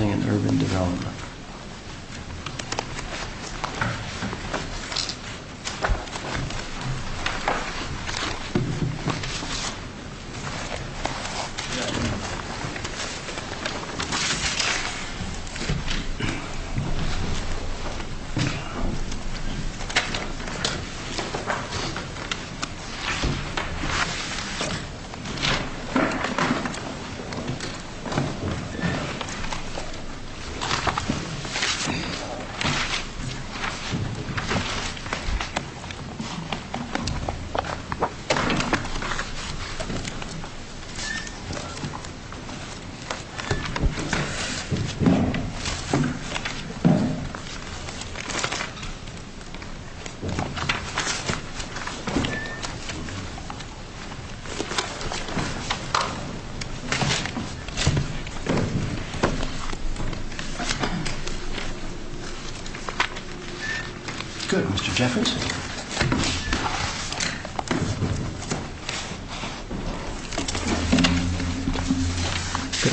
and Urban Development. Good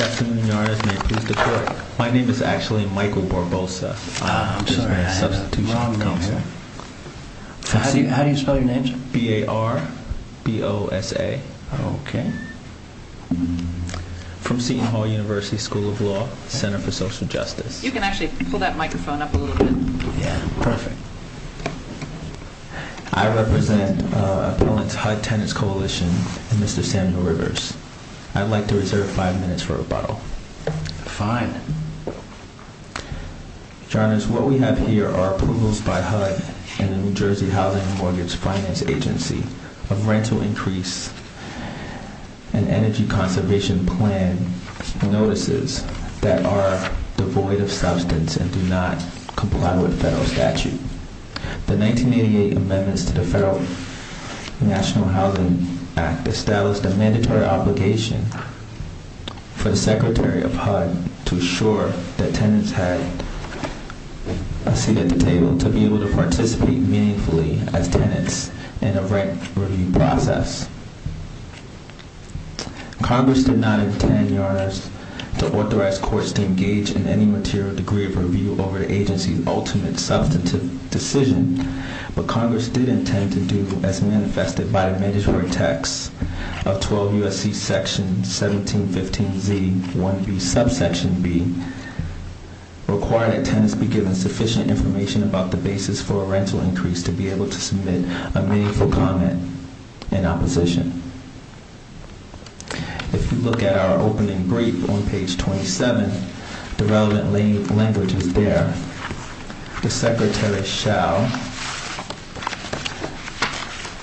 afternoon, Your Honor, and may it please the Court, my name is actually Michael Barbosa. How do you spell your name, sir? B-A-R-B-O-S-A. Okay. From Seton Hall University School of Law, Center for Social Justice. You can actually pull that microphone up a little bit. Yeah, perfect. I represent Appellant's HUD Tenants Coalition and Mr. Samuel Rivers. I'd like to reserve five minutes for rebuttal. Fine. Your Honor, what we have here are approvals by HUD and the New Jersey Housing and Mortgage Finance Agency of rental increase and energy conservation plan notices that are devoid of substance and do not comply with federal statute. The 1988 amendments to the Federal National Housing Act established a mandatory obligation for the Secretary of HUD to assure that tenants had a seat at the table to be able to participate meaningfully as tenants in a rent review process. Congress did not intend, Your Honors, to authorize courts to engage in any material degree of review over the agency's ultimate substantive decision, but Congress did intend to do as manifested by the mandatory text of 12 U.S.C. Section 1715Z-1B, subsection B, require that tenants be given sufficient information about the basis for a rental increase to be able to submit a meaningful comment in opposition. If you look at our opening brief on page 27, the relevant language is there. The Secretary shall,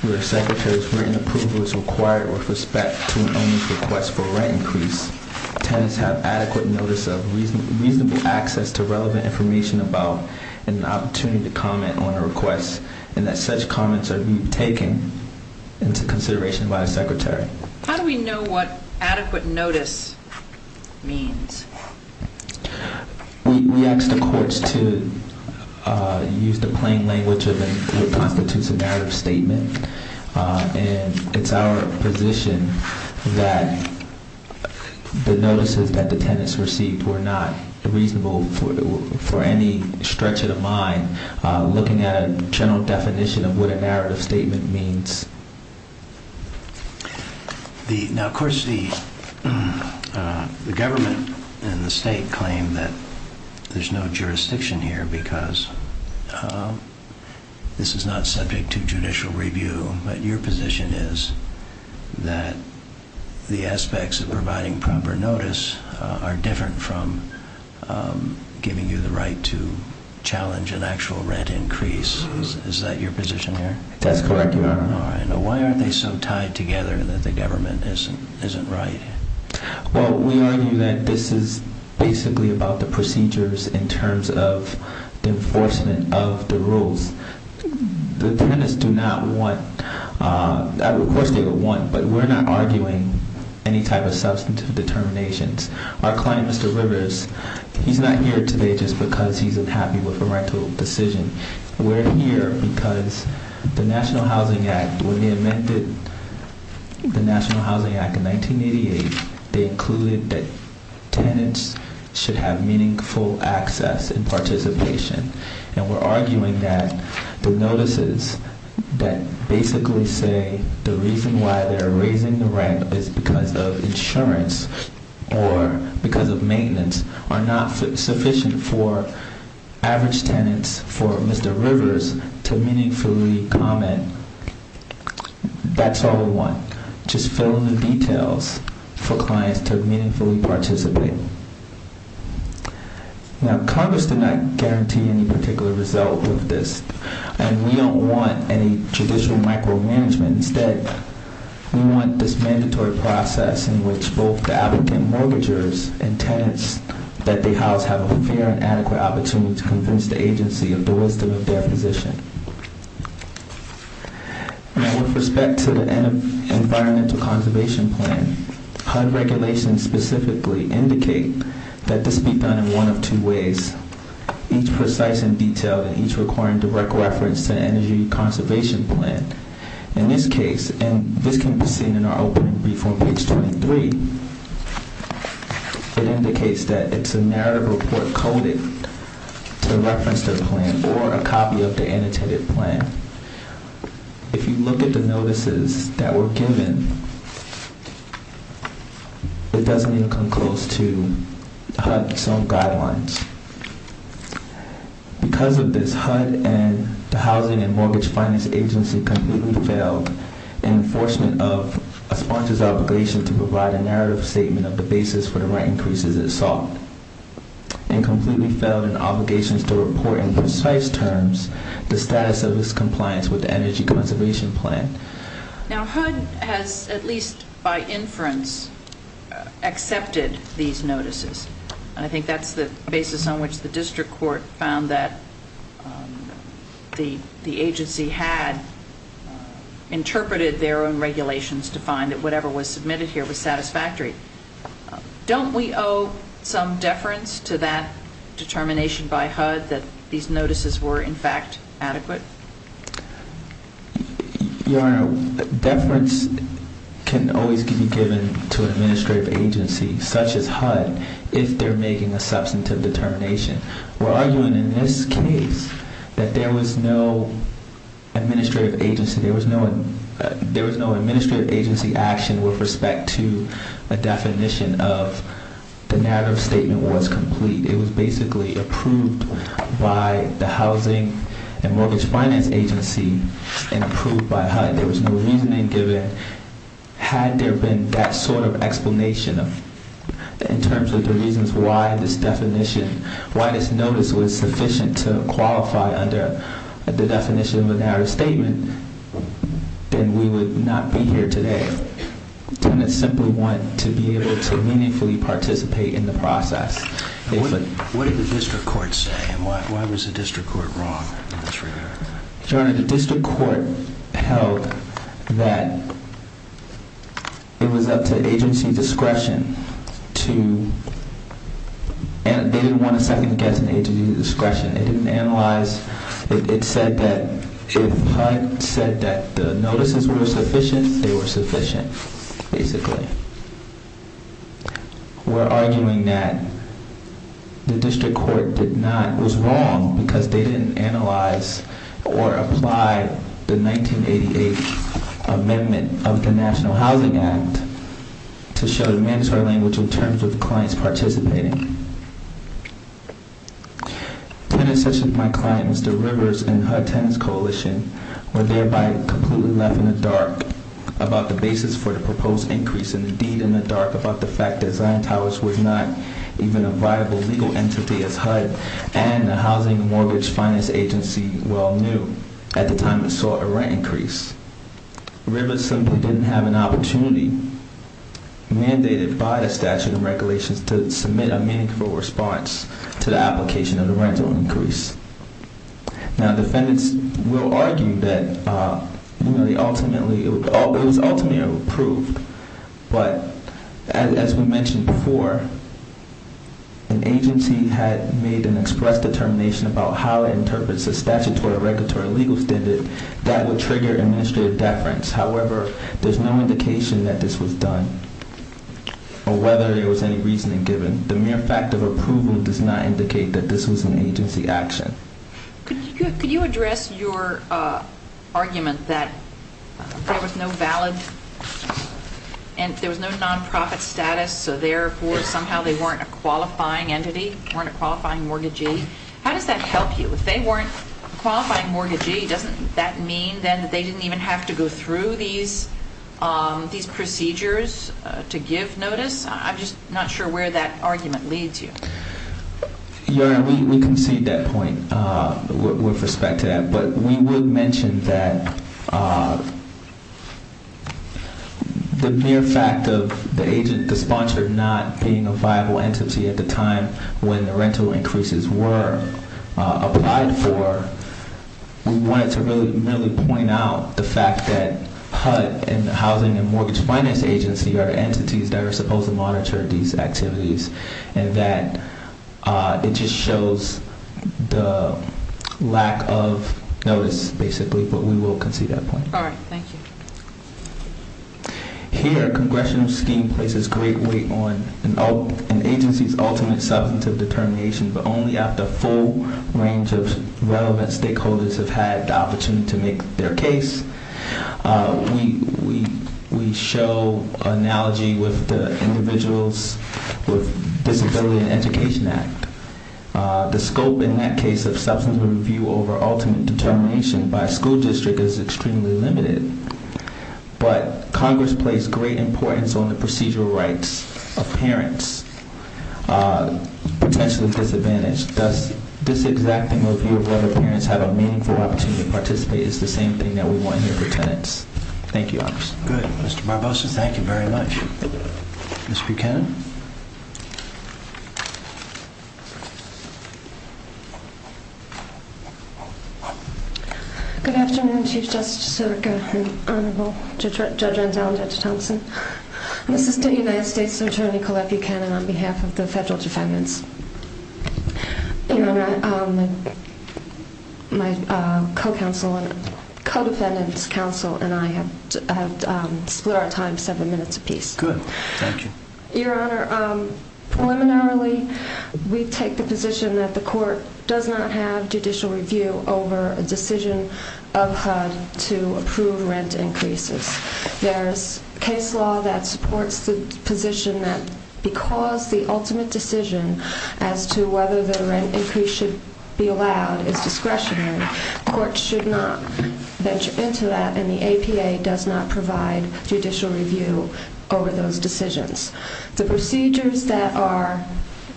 where the Secretary's written approval is required with respect to an owner's request for a rent increase, tenants have adequate notice of reasonable access to relevant information about an opportunity to comment on a request and that such comments are taken into consideration by the Secretary. How do we know what adequate notice means? We ask the courts to use the plain language of what constitutes a narrative statement and it's our position that the notices that the tenants received were not reasonable for any stretch of the mind looking at a general definition of what a narrative statement means. Now, of course, the government and the state claim that there's no jurisdiction here because this is not subject to judicial review, but your position is that the aspects of providing proper notice are different from giving you the right to challenge an actual rent increase. Is that your position here? That's correct, Your Honor. Why aren't they so tied together that the government isn't right? Well, we argue that this is basically about the procedures in terms of the enforcement of the rules. The tenants do not want, of course they would want, but we're not arguing any type of substantive determinations. Our client, Mr. Rivers, he's not here today just because he's unhappy with a rental decision. We're here because the National Housing Act, when they amended the National Housing Act in 1988, they included that tenants should have meaningful access and participation and we're arguing that the notices that basically say the reason why they're raising the rent is because of insurance or because of maintenance are not sufficient for average tenants for Mr. Rivers to meaningfully comment. That's all we want, just fill in the details for clients to meaningfully participate. Now, Congress did not guarantee any particular result with this and we don't want any judicial micromanagement. Instead, we want this mandatory process in which both the applicant mortgagers and tenants that they house have a fair and adequate opportunity to convince the agency of the wisdom of their position. Now, with respect to the environmental conservation plan, HUD regulations specifically indicate that this be done in one of two ways, each precise and detailed and each requiring direct reference to energy conservation plan. In this case, and this can be seen in our opening brief on page 23, it indicates that it's a narrative report coded to reference the plan or a copy of the annotated plan. If you look at the notices that were given, it doesn't even come close to HUD's own guidelines. Because of this, HUD and the Housing and Mortgage Finance Agency completely failed in enforcement of a sponsor's obligation to provide a narrative statement of the basis for the rent increases it sought and completely failed in obligations to report in precise terms the status of its compliance with the energy conservation plan. Now, HUD has at least by inference accepted these notices. I think that's the basis on which the district court found that the agency had interpreted their own regulations to find that whatever was submitted here was satisfactory. Don't we owe some deference to that determination by HUD that these notices were in fact adequate? Your Honor, deference can always be given to an administrative agency such as HUD if they're making a substantive determination. We're arguing in this case that there was no administrative agency action with respect to a definition of the narrative statement was complete. It was basically approved by the Housing and Mortgage Finance Agency and approved by HUD. There was no reasoning given. Had there been that sort of explanation in terms of the reasons why this definition, why this notice was sufficient to qualify under the definition of a narrative statement, then we would not be here today. Tenants simply want to be able to meaningfully participate in the process. What did the district court say? Why was the district court wrong in this regard? Your Honor, the district court held that it was up to agency discretion to... They didn't want to second-guess an agency's discretion. It didn't analyze. It said that if HUD said that the notices were sufficient, they were sufficient, basically. We're arguing that the district court was wrong because they didn't analyze or apply the 1988 amendment of the National Housing Act to show the mandatory language in terms of the clients participating. Tenants such as my clients, the Rivers and HUD Tenants Coalition, were thereby completely left in the dark about the basis for the proposed increase and indeed in the dark about the fact that Zion Towers was not even a viable legal entity as HUD and the Housing and Mortgage Finance Agency well knew at the time it saw a rent increase. Rivers simply didn't have an opportunity mandated by the statute and regulations to submit a meaningful response to the application of the rental increase. Now, defendants will argue that it was ultimately approved, but as we mentioned before, an agency had made an express determination about how it interprets the statutory regulatory legal standard that would trigger administrative deference. However, there's no indication that this was done or whether there was any reasoning given. The mere fact of approval does not indicate that this was an agency action. Could you address your argument that there was no valid and there was no nonprofit status so therefore somehow they weren't a qualifying entity, weren't a qualifying mortgagee? How does that help you? If they weren't a qualifying mortgagee, doesn't that mean then that they didn't even have to go through these procedures to give notice? I'm just not sure where that argument leads you. Your Honor, we concede that point with respect to that. But we will mention that the mere fact of the sponsor not being a viable entity at the time when the rental increases were applied for, we wanted to really point out the fact that HUD and the Housing and Mortgage Finance Agency are entities that are supposed to monitor these activities and that it just shows the lack of notice, basically, but we will concede that point. All right. Thank you. Here, a congressional scheme places great weight on an agency's ultimate substantive determination, but only after a full range of relevant stakeholders have had the opportunity to make their case. We show analogy with the Individuals with Disability and Education Act. The scope in that case of substantive review over ultimate determination by a school district is extremely limited, but Congress placed great importance on the procedural rights of parents potentially disadvantaged. Does this exacting review of whether parents have a meaningful opportunity to participate is the same thing that we want here for tenants? Thank you, Your Honor. Good. Mr. Barbosa, thank you very much. Ms. Buchanan? Good afternoon, Chief Justice Sotoka and Honorable Judge Renzel and Judge Thomson. I'm Assistant United States Attorney Colette Buchanan on behalf of the Federal Defendants. Your Honor, my co-counsel and co-defendants' counsel and I have split our time seven minutes apiece. Good. Thank you. Your Honor, preliminarily we take the position that the court does not have judicial review over a decision of HUD to approve rent increases. There's case law that supports the position that because the ultimate decision as to whether the rent increase should be allowed is discretionary, the court should not venture into that and the APA does not provide judicial review over those decisions. The procedures that are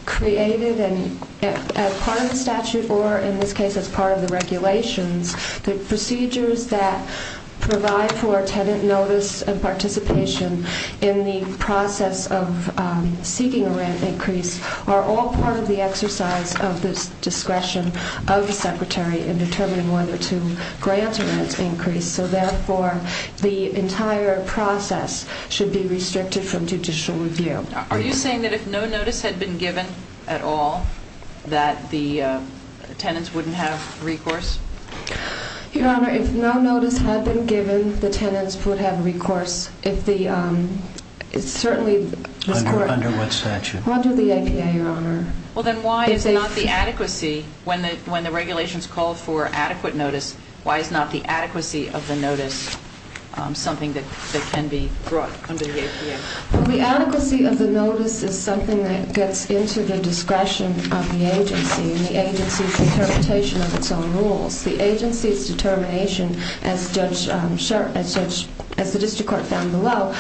created as part of the statute or in this case as part of the regulations, the procedures that provide for tenant notice and participation in the process of seeking a rent increase are all part of the exercise of the discretion of the Secretary in determining whether to grant a rent increase. So therefore, the entire process should be restricted from judicial review. Are you saying that if no notice had been given at all that the tenants wouldn't have recourse? Your Honor, if no notice had been given, the tenants would have recourse. Under what statute? Under the APA, Your Honor. Well, then why is not the adequacy when the regulations call for adequate notice, why is not the adequacy of the notice something that can be brought under the APA? The adequacy of the notice is something that gets into the discretion of the agency and the agency's interpretation of its own rules. The agency's determination, as the district court found below,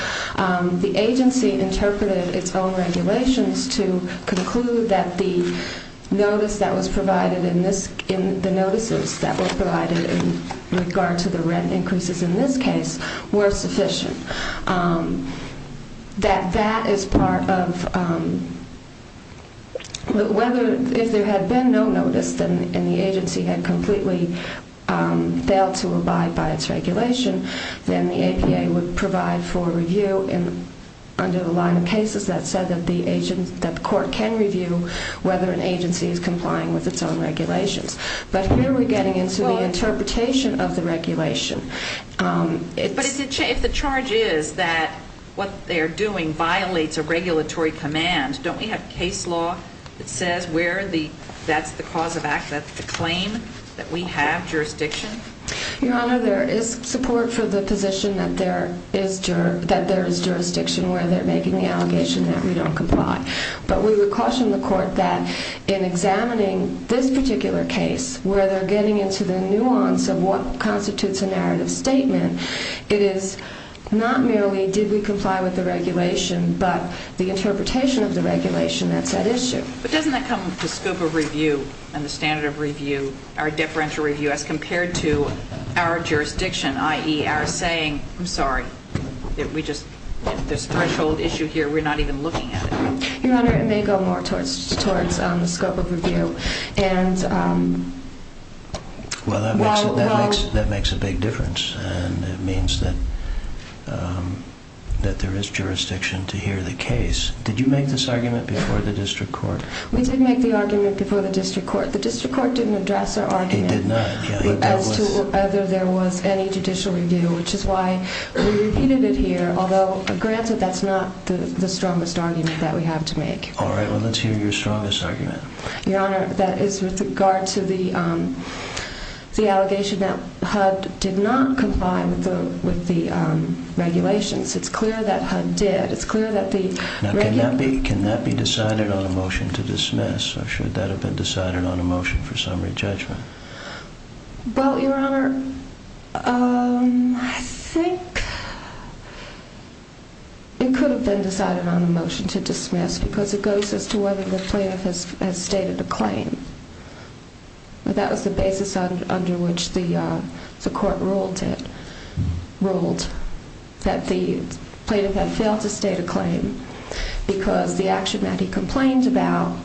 the agency interpreted its own regulations to conclude that the notice that was provided in this, the notices that were provided in regard to the rent increases in this case were sufficient. That that is part of whether, if there had been no notice and the agency had completely failed to abide by its regulation, then the APA would provide for review under the line of cases that said that the agency, that the court can review whether an agency is complying with its own regulations. But here we're getting into the interpretation of the regulation. But if the charge is that what they're doing violates a regulatory command, don't we have case law that says that's the cause of act, that's the claim, that we have jurisdiction? Your Honor, there is support for the position that there is jurisdiction where they're making the allegation that we don't comply. But we would caution the court that in examining this particular case, where they're getting into the nuance of what constitutes a narrative statement, it is not merely did we comply with the regulation, but the interpretation of the regulation that's at issue. But doesn't that come with the scope of review and the standard of review, our deferential review as compared to our jurisdiction, i.e., our saying, I'm sorry, we just, there's a threshold issue here, we're not even looking at it. Your Honor, it may go more towards the scope of review. Well, that makes a big difference. And it means that there is jurisdiction to hear the case. Did you make this argument before the district court? We did make the argument before the district court. The district court didn't address our argument as to whether there was any judicial review, which is why we repeated it here. Although, granted, that's not the strongest argument that we have to make. All right, well, let's hear your strongest argument. Your Honor, that is with regard to the allegation that HUD did not comply with the regulations. It's clear that HUD did. Now, can that be decided on a motion to dismiss, or should that have been decided on a motion for summary judgment? Well, Your Honor, I think it could have been decided on a motion to dismiss because it goes as to whether the plaintiff has stated a claim. That was the basis under which the court ruled that the plaintiff had failed to state a claim because the actions that he complained about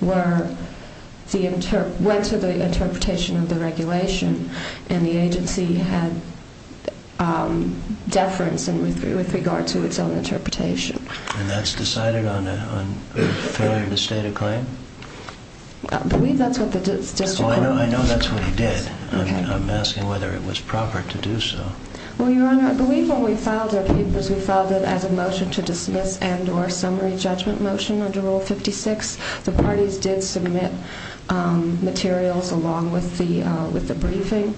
went to the interpretation of the regulation, and the agency had deference with regard to its own interpretation. And that's decided on a failure to state a claim? I believe that's what the district court ruled. I know that's what he did. I'm asking whether it was proper to do so. Well, Your Honor, I believe when we filed our papers, we filed it as a motion to dismiss and or summary judgment motion under Rule 56. The parties did submit materials along with the briefing,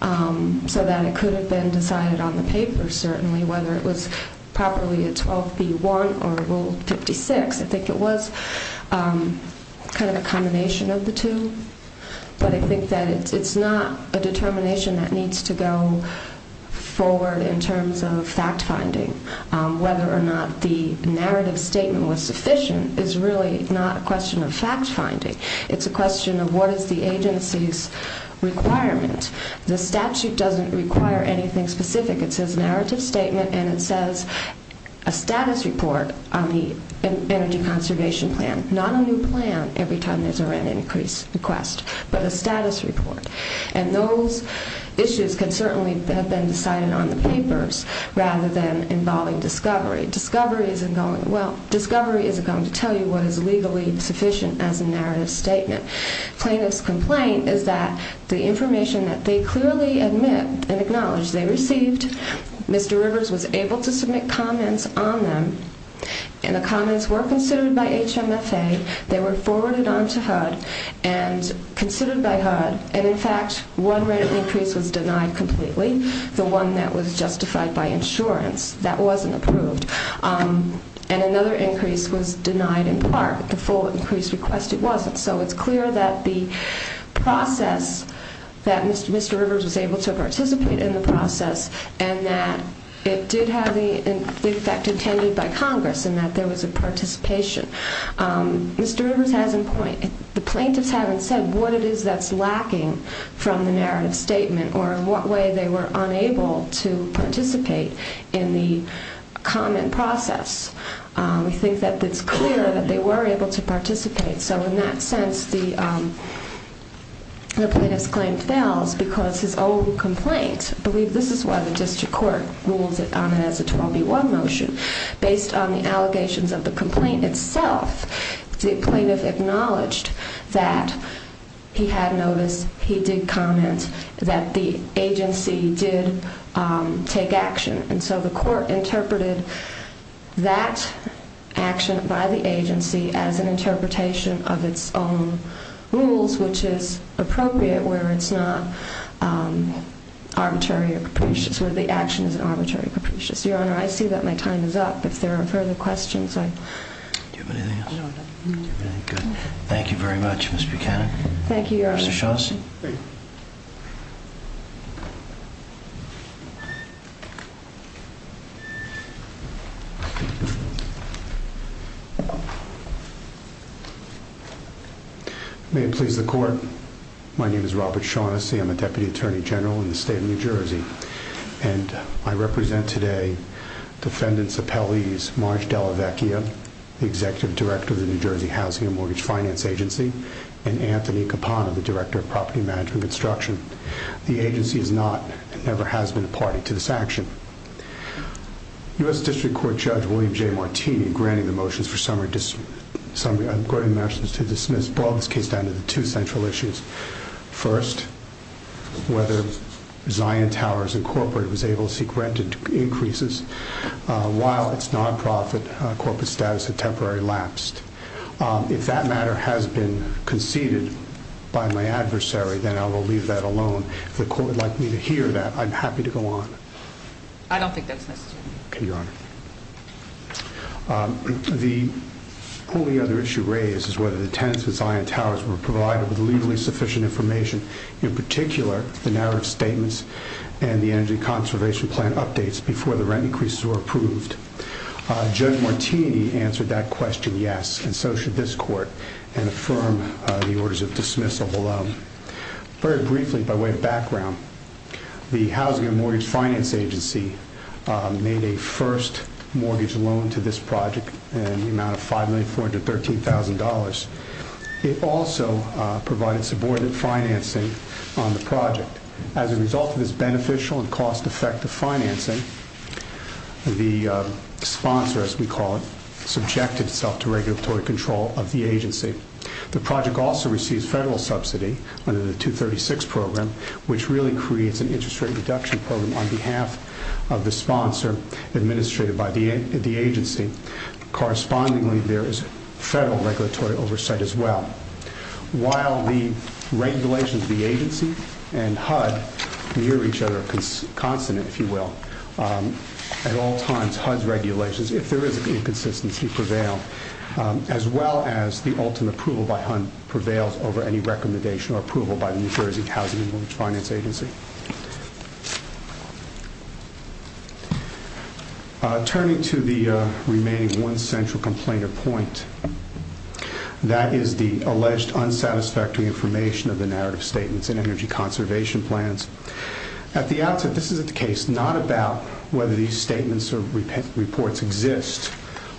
so that it could have been decided on the paper, certainly, whether it was properly a 12B1 or Rule 56. I think it was kind of a combination of the two. But I think that it's not a determination that needs to go forward in terms of fact-finding. Whether or not the narrative statement was sufficient is really not a question of fact-finding. It's a question of what is the agency's requirement. The statute doesn't require anything specific. It says narrative statement, and it says a status report on the energy conservation plan. Not a new plan every time there's an increase request, but a status report. And those issues can certainly have been decided on the papers rather than involving discovery. Discovery isn't going to tell you what is legally sufficient as a narrative statement. Plaintiff's complaint is that the information that they clearly admit and acknowledge they received, Mr. Rivers was able to submit comments on them, and the comments were considered by HMFA. They were forwarded on to HUD and considered by HUD. And, in fact, one rate increase was denied completely, the one that was justified by insurance. That wasn't approved. And another increase was denied in part. The full increase request, it wasn't. So it's clear that the process, that Mr. Rivers was able to participate in the process, and that it did have the effect intended by Congress, and that there was a participation. Mr. Rivers has a point. The plaintiffs haven't said what it is that's lacking from the narrative statement or in what way they were unable to participate in the comment process. We think that it's clear that they were able to participate. So in that sense, the plaintiff's claim fails because his own complaint, I believe this is why the district court rules it on as a 12B1 motion, based on the allegations of the complaint itself, the plaintiff acknowledged that he had noticed, he did comment, that the agency did take action. And so the court interpreted that action by the agency as an interpretation of its own rules, which is appropriate where it's not arbitrary or capricious, where the action is arbitrary or capricious. Your Honor, I see that my time is up. If there are further questions, I... Do you have anything else? No, I'm done. Okay, good. Thank you very much, Ms. Buchanan. Thank you, Your Honor. Mr. Shawson. Thank you. May it please the court. My name is Robert Shaughnessy. I'm a Deputy Attorney General in the state of New Jersey. And I represent today defendants Appellees Marge Dellavecchia, the Executive Director of the New Jersey Housing and Mortgage Finance Agency, and Anthony Capon, the Director of Property Management Construction. The agency is not, and never has been, a party to this action. U.S. District Court Judge William J. Martini, granting the motions to dismiss, brought this case down to the two central issues. First, whether Zion Towers Incorporated was able to seek rent increases while its non-profit corporate status had temporarily lapsed. If that matter has been conceded by my adversary, then I will leave that alone. If the court would like me to hear that, I'm happy to go on. I don't think that's necessary. Okay, Your Honor. The only other issue raised is whether the tenants of Zion Towers were provided with legally sufficient information, in particular, the narrative statements and the energy conservation plan updates before the rent increases were approved. Judge Martini answered that question, yes, and so should this court, and affirm the orders of dismissal below. Very briefly, by way of background, the Housing and Mortgage Finance Agency made a first mortgage loan to this project in the amount of $5,413,000. It also provided subordinate financing on the project. As a result of this beneficial and cost-effective financing, the sponsor, as we call it, subjected itself to regulatory control of the agency. The project also receives federal subsidy under the 236 program, which really creates an interest rate reduction program on behalf of the sponsor administrated by the agency. Correspondingly, there is federal regulatory oversight as well. While the regulations of the agency and HUD near each other are consonant, if you will, at all times HUD's regulations, if there is an inconsistency, prevail, as well as the ultimate approval by HUD prevails over any recommendation or approval by the New Jersey Housing and Mortgage Finance Agency. Turning to the remaining one central complainant point, that is the alleged unsatisfactory information of the narrative statements in energy conservation plans. At the outset, this is a case not about whether these statements or reports exist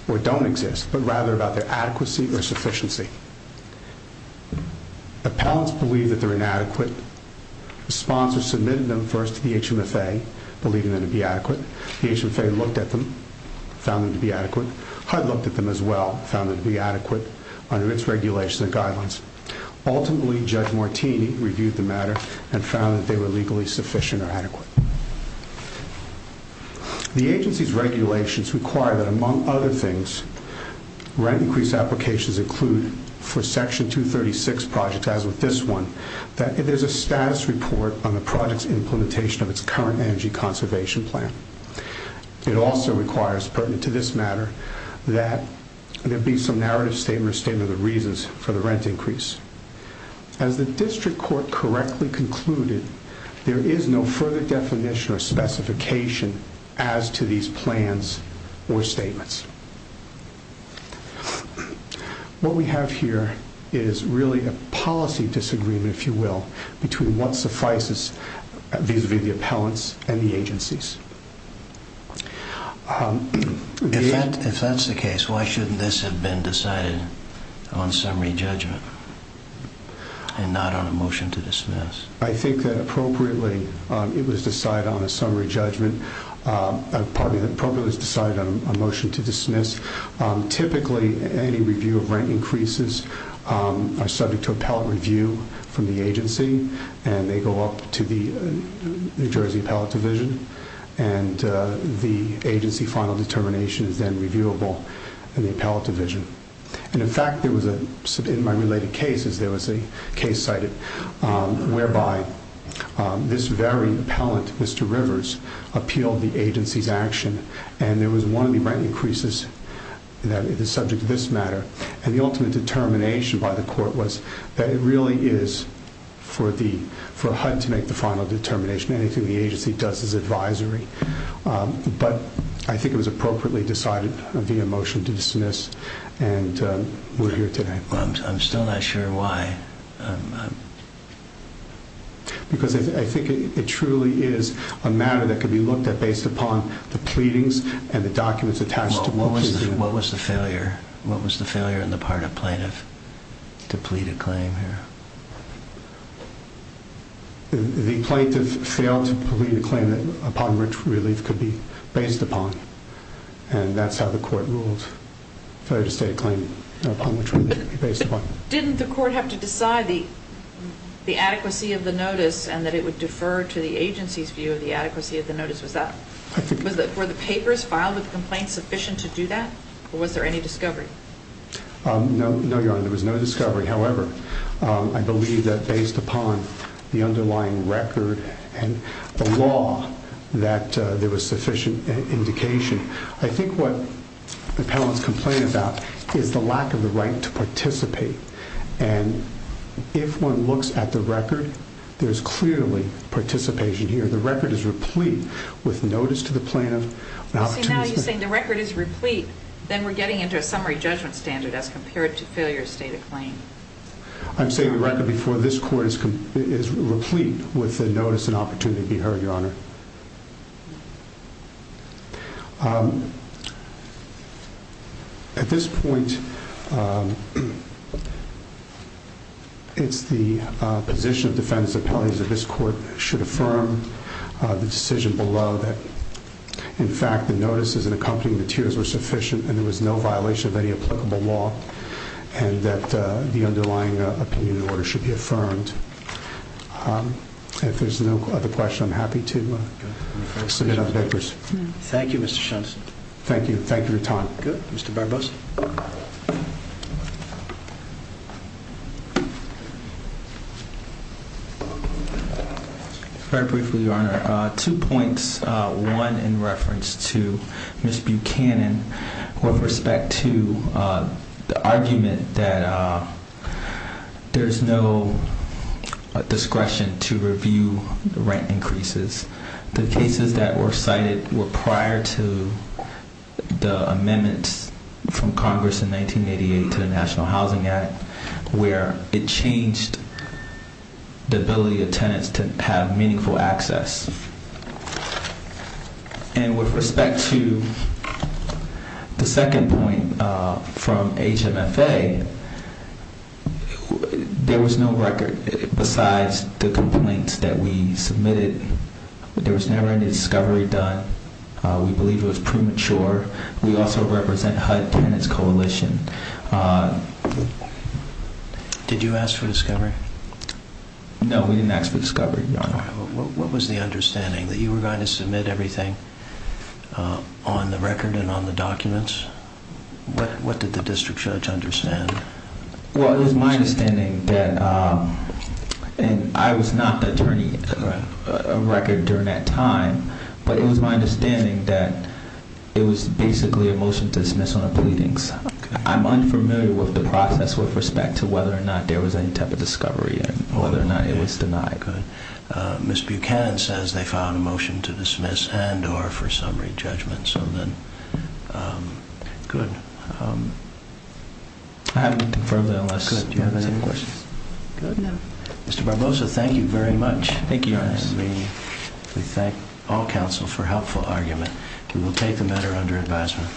or don't exist, but rather about their adequacy or sufficiency. Appellants believe that they're inadequate. The sponsor submitted them first to the HMFA, believing them to be adequate. HUD looked at them as well, found them to be adequate under its regulations and guidelines. Ultimately, Judge Martini reviewed the matter and found that they were legally sufficient or adequate. The agency's regulations require that, among other things, rent increase applications include for Section 236 projects, as with this one, that there's a status report on the project's implementation of its current energy conservation plan. It also requires, pertinent to this matter, that there be some narrative statement or statement of reasons for the rent increase. As the district court correctly concluded, there is no further definition or specification as to these plans or statements. What we have here is really a policy disagreement, if you will, between what suffices vis-à-vis the appellants and the agencies. If that's the case, why shouldn't this have been decided on summary judgment and not on a motion to dismiss? I think that, appropriately, it was decided on a summary judgment. Pardon me, it was appropriately decided on a motion to dismiss. Typically, any review of rent increases are subject to appellant review from the agency, and they go up to the New Jersey appellate division, and the agency final determination is then reviewable in the appellate division. In fact, in my related cases, there was a case cited whereby this very appellant, Mr. Rivers, appealed the agency's action, and there was one of the rent increases that is subject to this matter. And the ultimate determination by the court was that it really is for HUD to make the final determination. Anything the agency does is advisory. But I think it was appropriately decided via motion to dismiss, and we're here today. I'm still not sure why. Because I think it truly is a matter that can be looked at based upon the pleadings and the documents attached to both of them. What was the failure in the part of plaintiff to plead a claim here? The plaintiff failed to plead a claim upon which relief could be based upon, and that's how the court ruled, failure to state a claim upon which relief could be based upon. Didn't the court have to decide the adequacy of the notice and that it would defer to the agency's view of the adequacy of the notice? Were the papers filed with the complaint sufficient to do that, or was there any discovery? No, Your Honor, there was no discovery. However, I believe that based upon the underlying record and the law, that there was sufficient indication. I think what the appellants complain about is the lack of the right to participate. And if one looks at the record, there's clearly participation here. I'm saying the record is replete with notice to the plaintiff. Now you're saying the record is replete, then we're getting into a summary judgment standard as compared to failure to state a claim. I'm saying the record before this court is replete with the notice and opportunity to be heard, Your Honor. At this point, it's the position of defense that this court should affirm the decision below that, in fact, the notices and accompanying materials were sufficient and there was no violation of any applicable law and that the underlying opinion in order should be affirmed. If there's no other question, I'm happy to submit other papers. Thank you, Mr. Shunson. Thank you. Thank you for your time. Good. Mr. Barbosa. Very briefly, Your Honor. Two points, one in reference to Ms. Buchanan with respect to the argument that there's no discretion to review the rent increases. The cases that were cited were prior to the amendments from Congress in 1988 to the National Housing Act where it changed the ability of tenants to have meaningful access. And with respect to the second point from HMFA, there was no record besides the complaints that we submitted. There was never any discovery done. We believe it was premature. We also represent HUD Tenants Coalition. Did you ask for discovery? No, we didn't ask for discovery, Your Honor. What was the understanding, that you were going to submit everything on the record and on the documents? What did the district judge understand? Well, it was my understanding that, and I was not the attorney of record during that time, but it was my understanding that it was basically a motion to dismiss on the pleadings. I'm unfamiliar with the process with respect to whether or not there was any type of discovery and whether or not it was denied. Ms. Buchanan says they found a motion to dismiss and or for summary judgment. So then, good. I haven't confirmed that unless you have any questions. Good. Thank you, Your Honor. We thank all counsel for helpful argument. We will take the matter under advisement.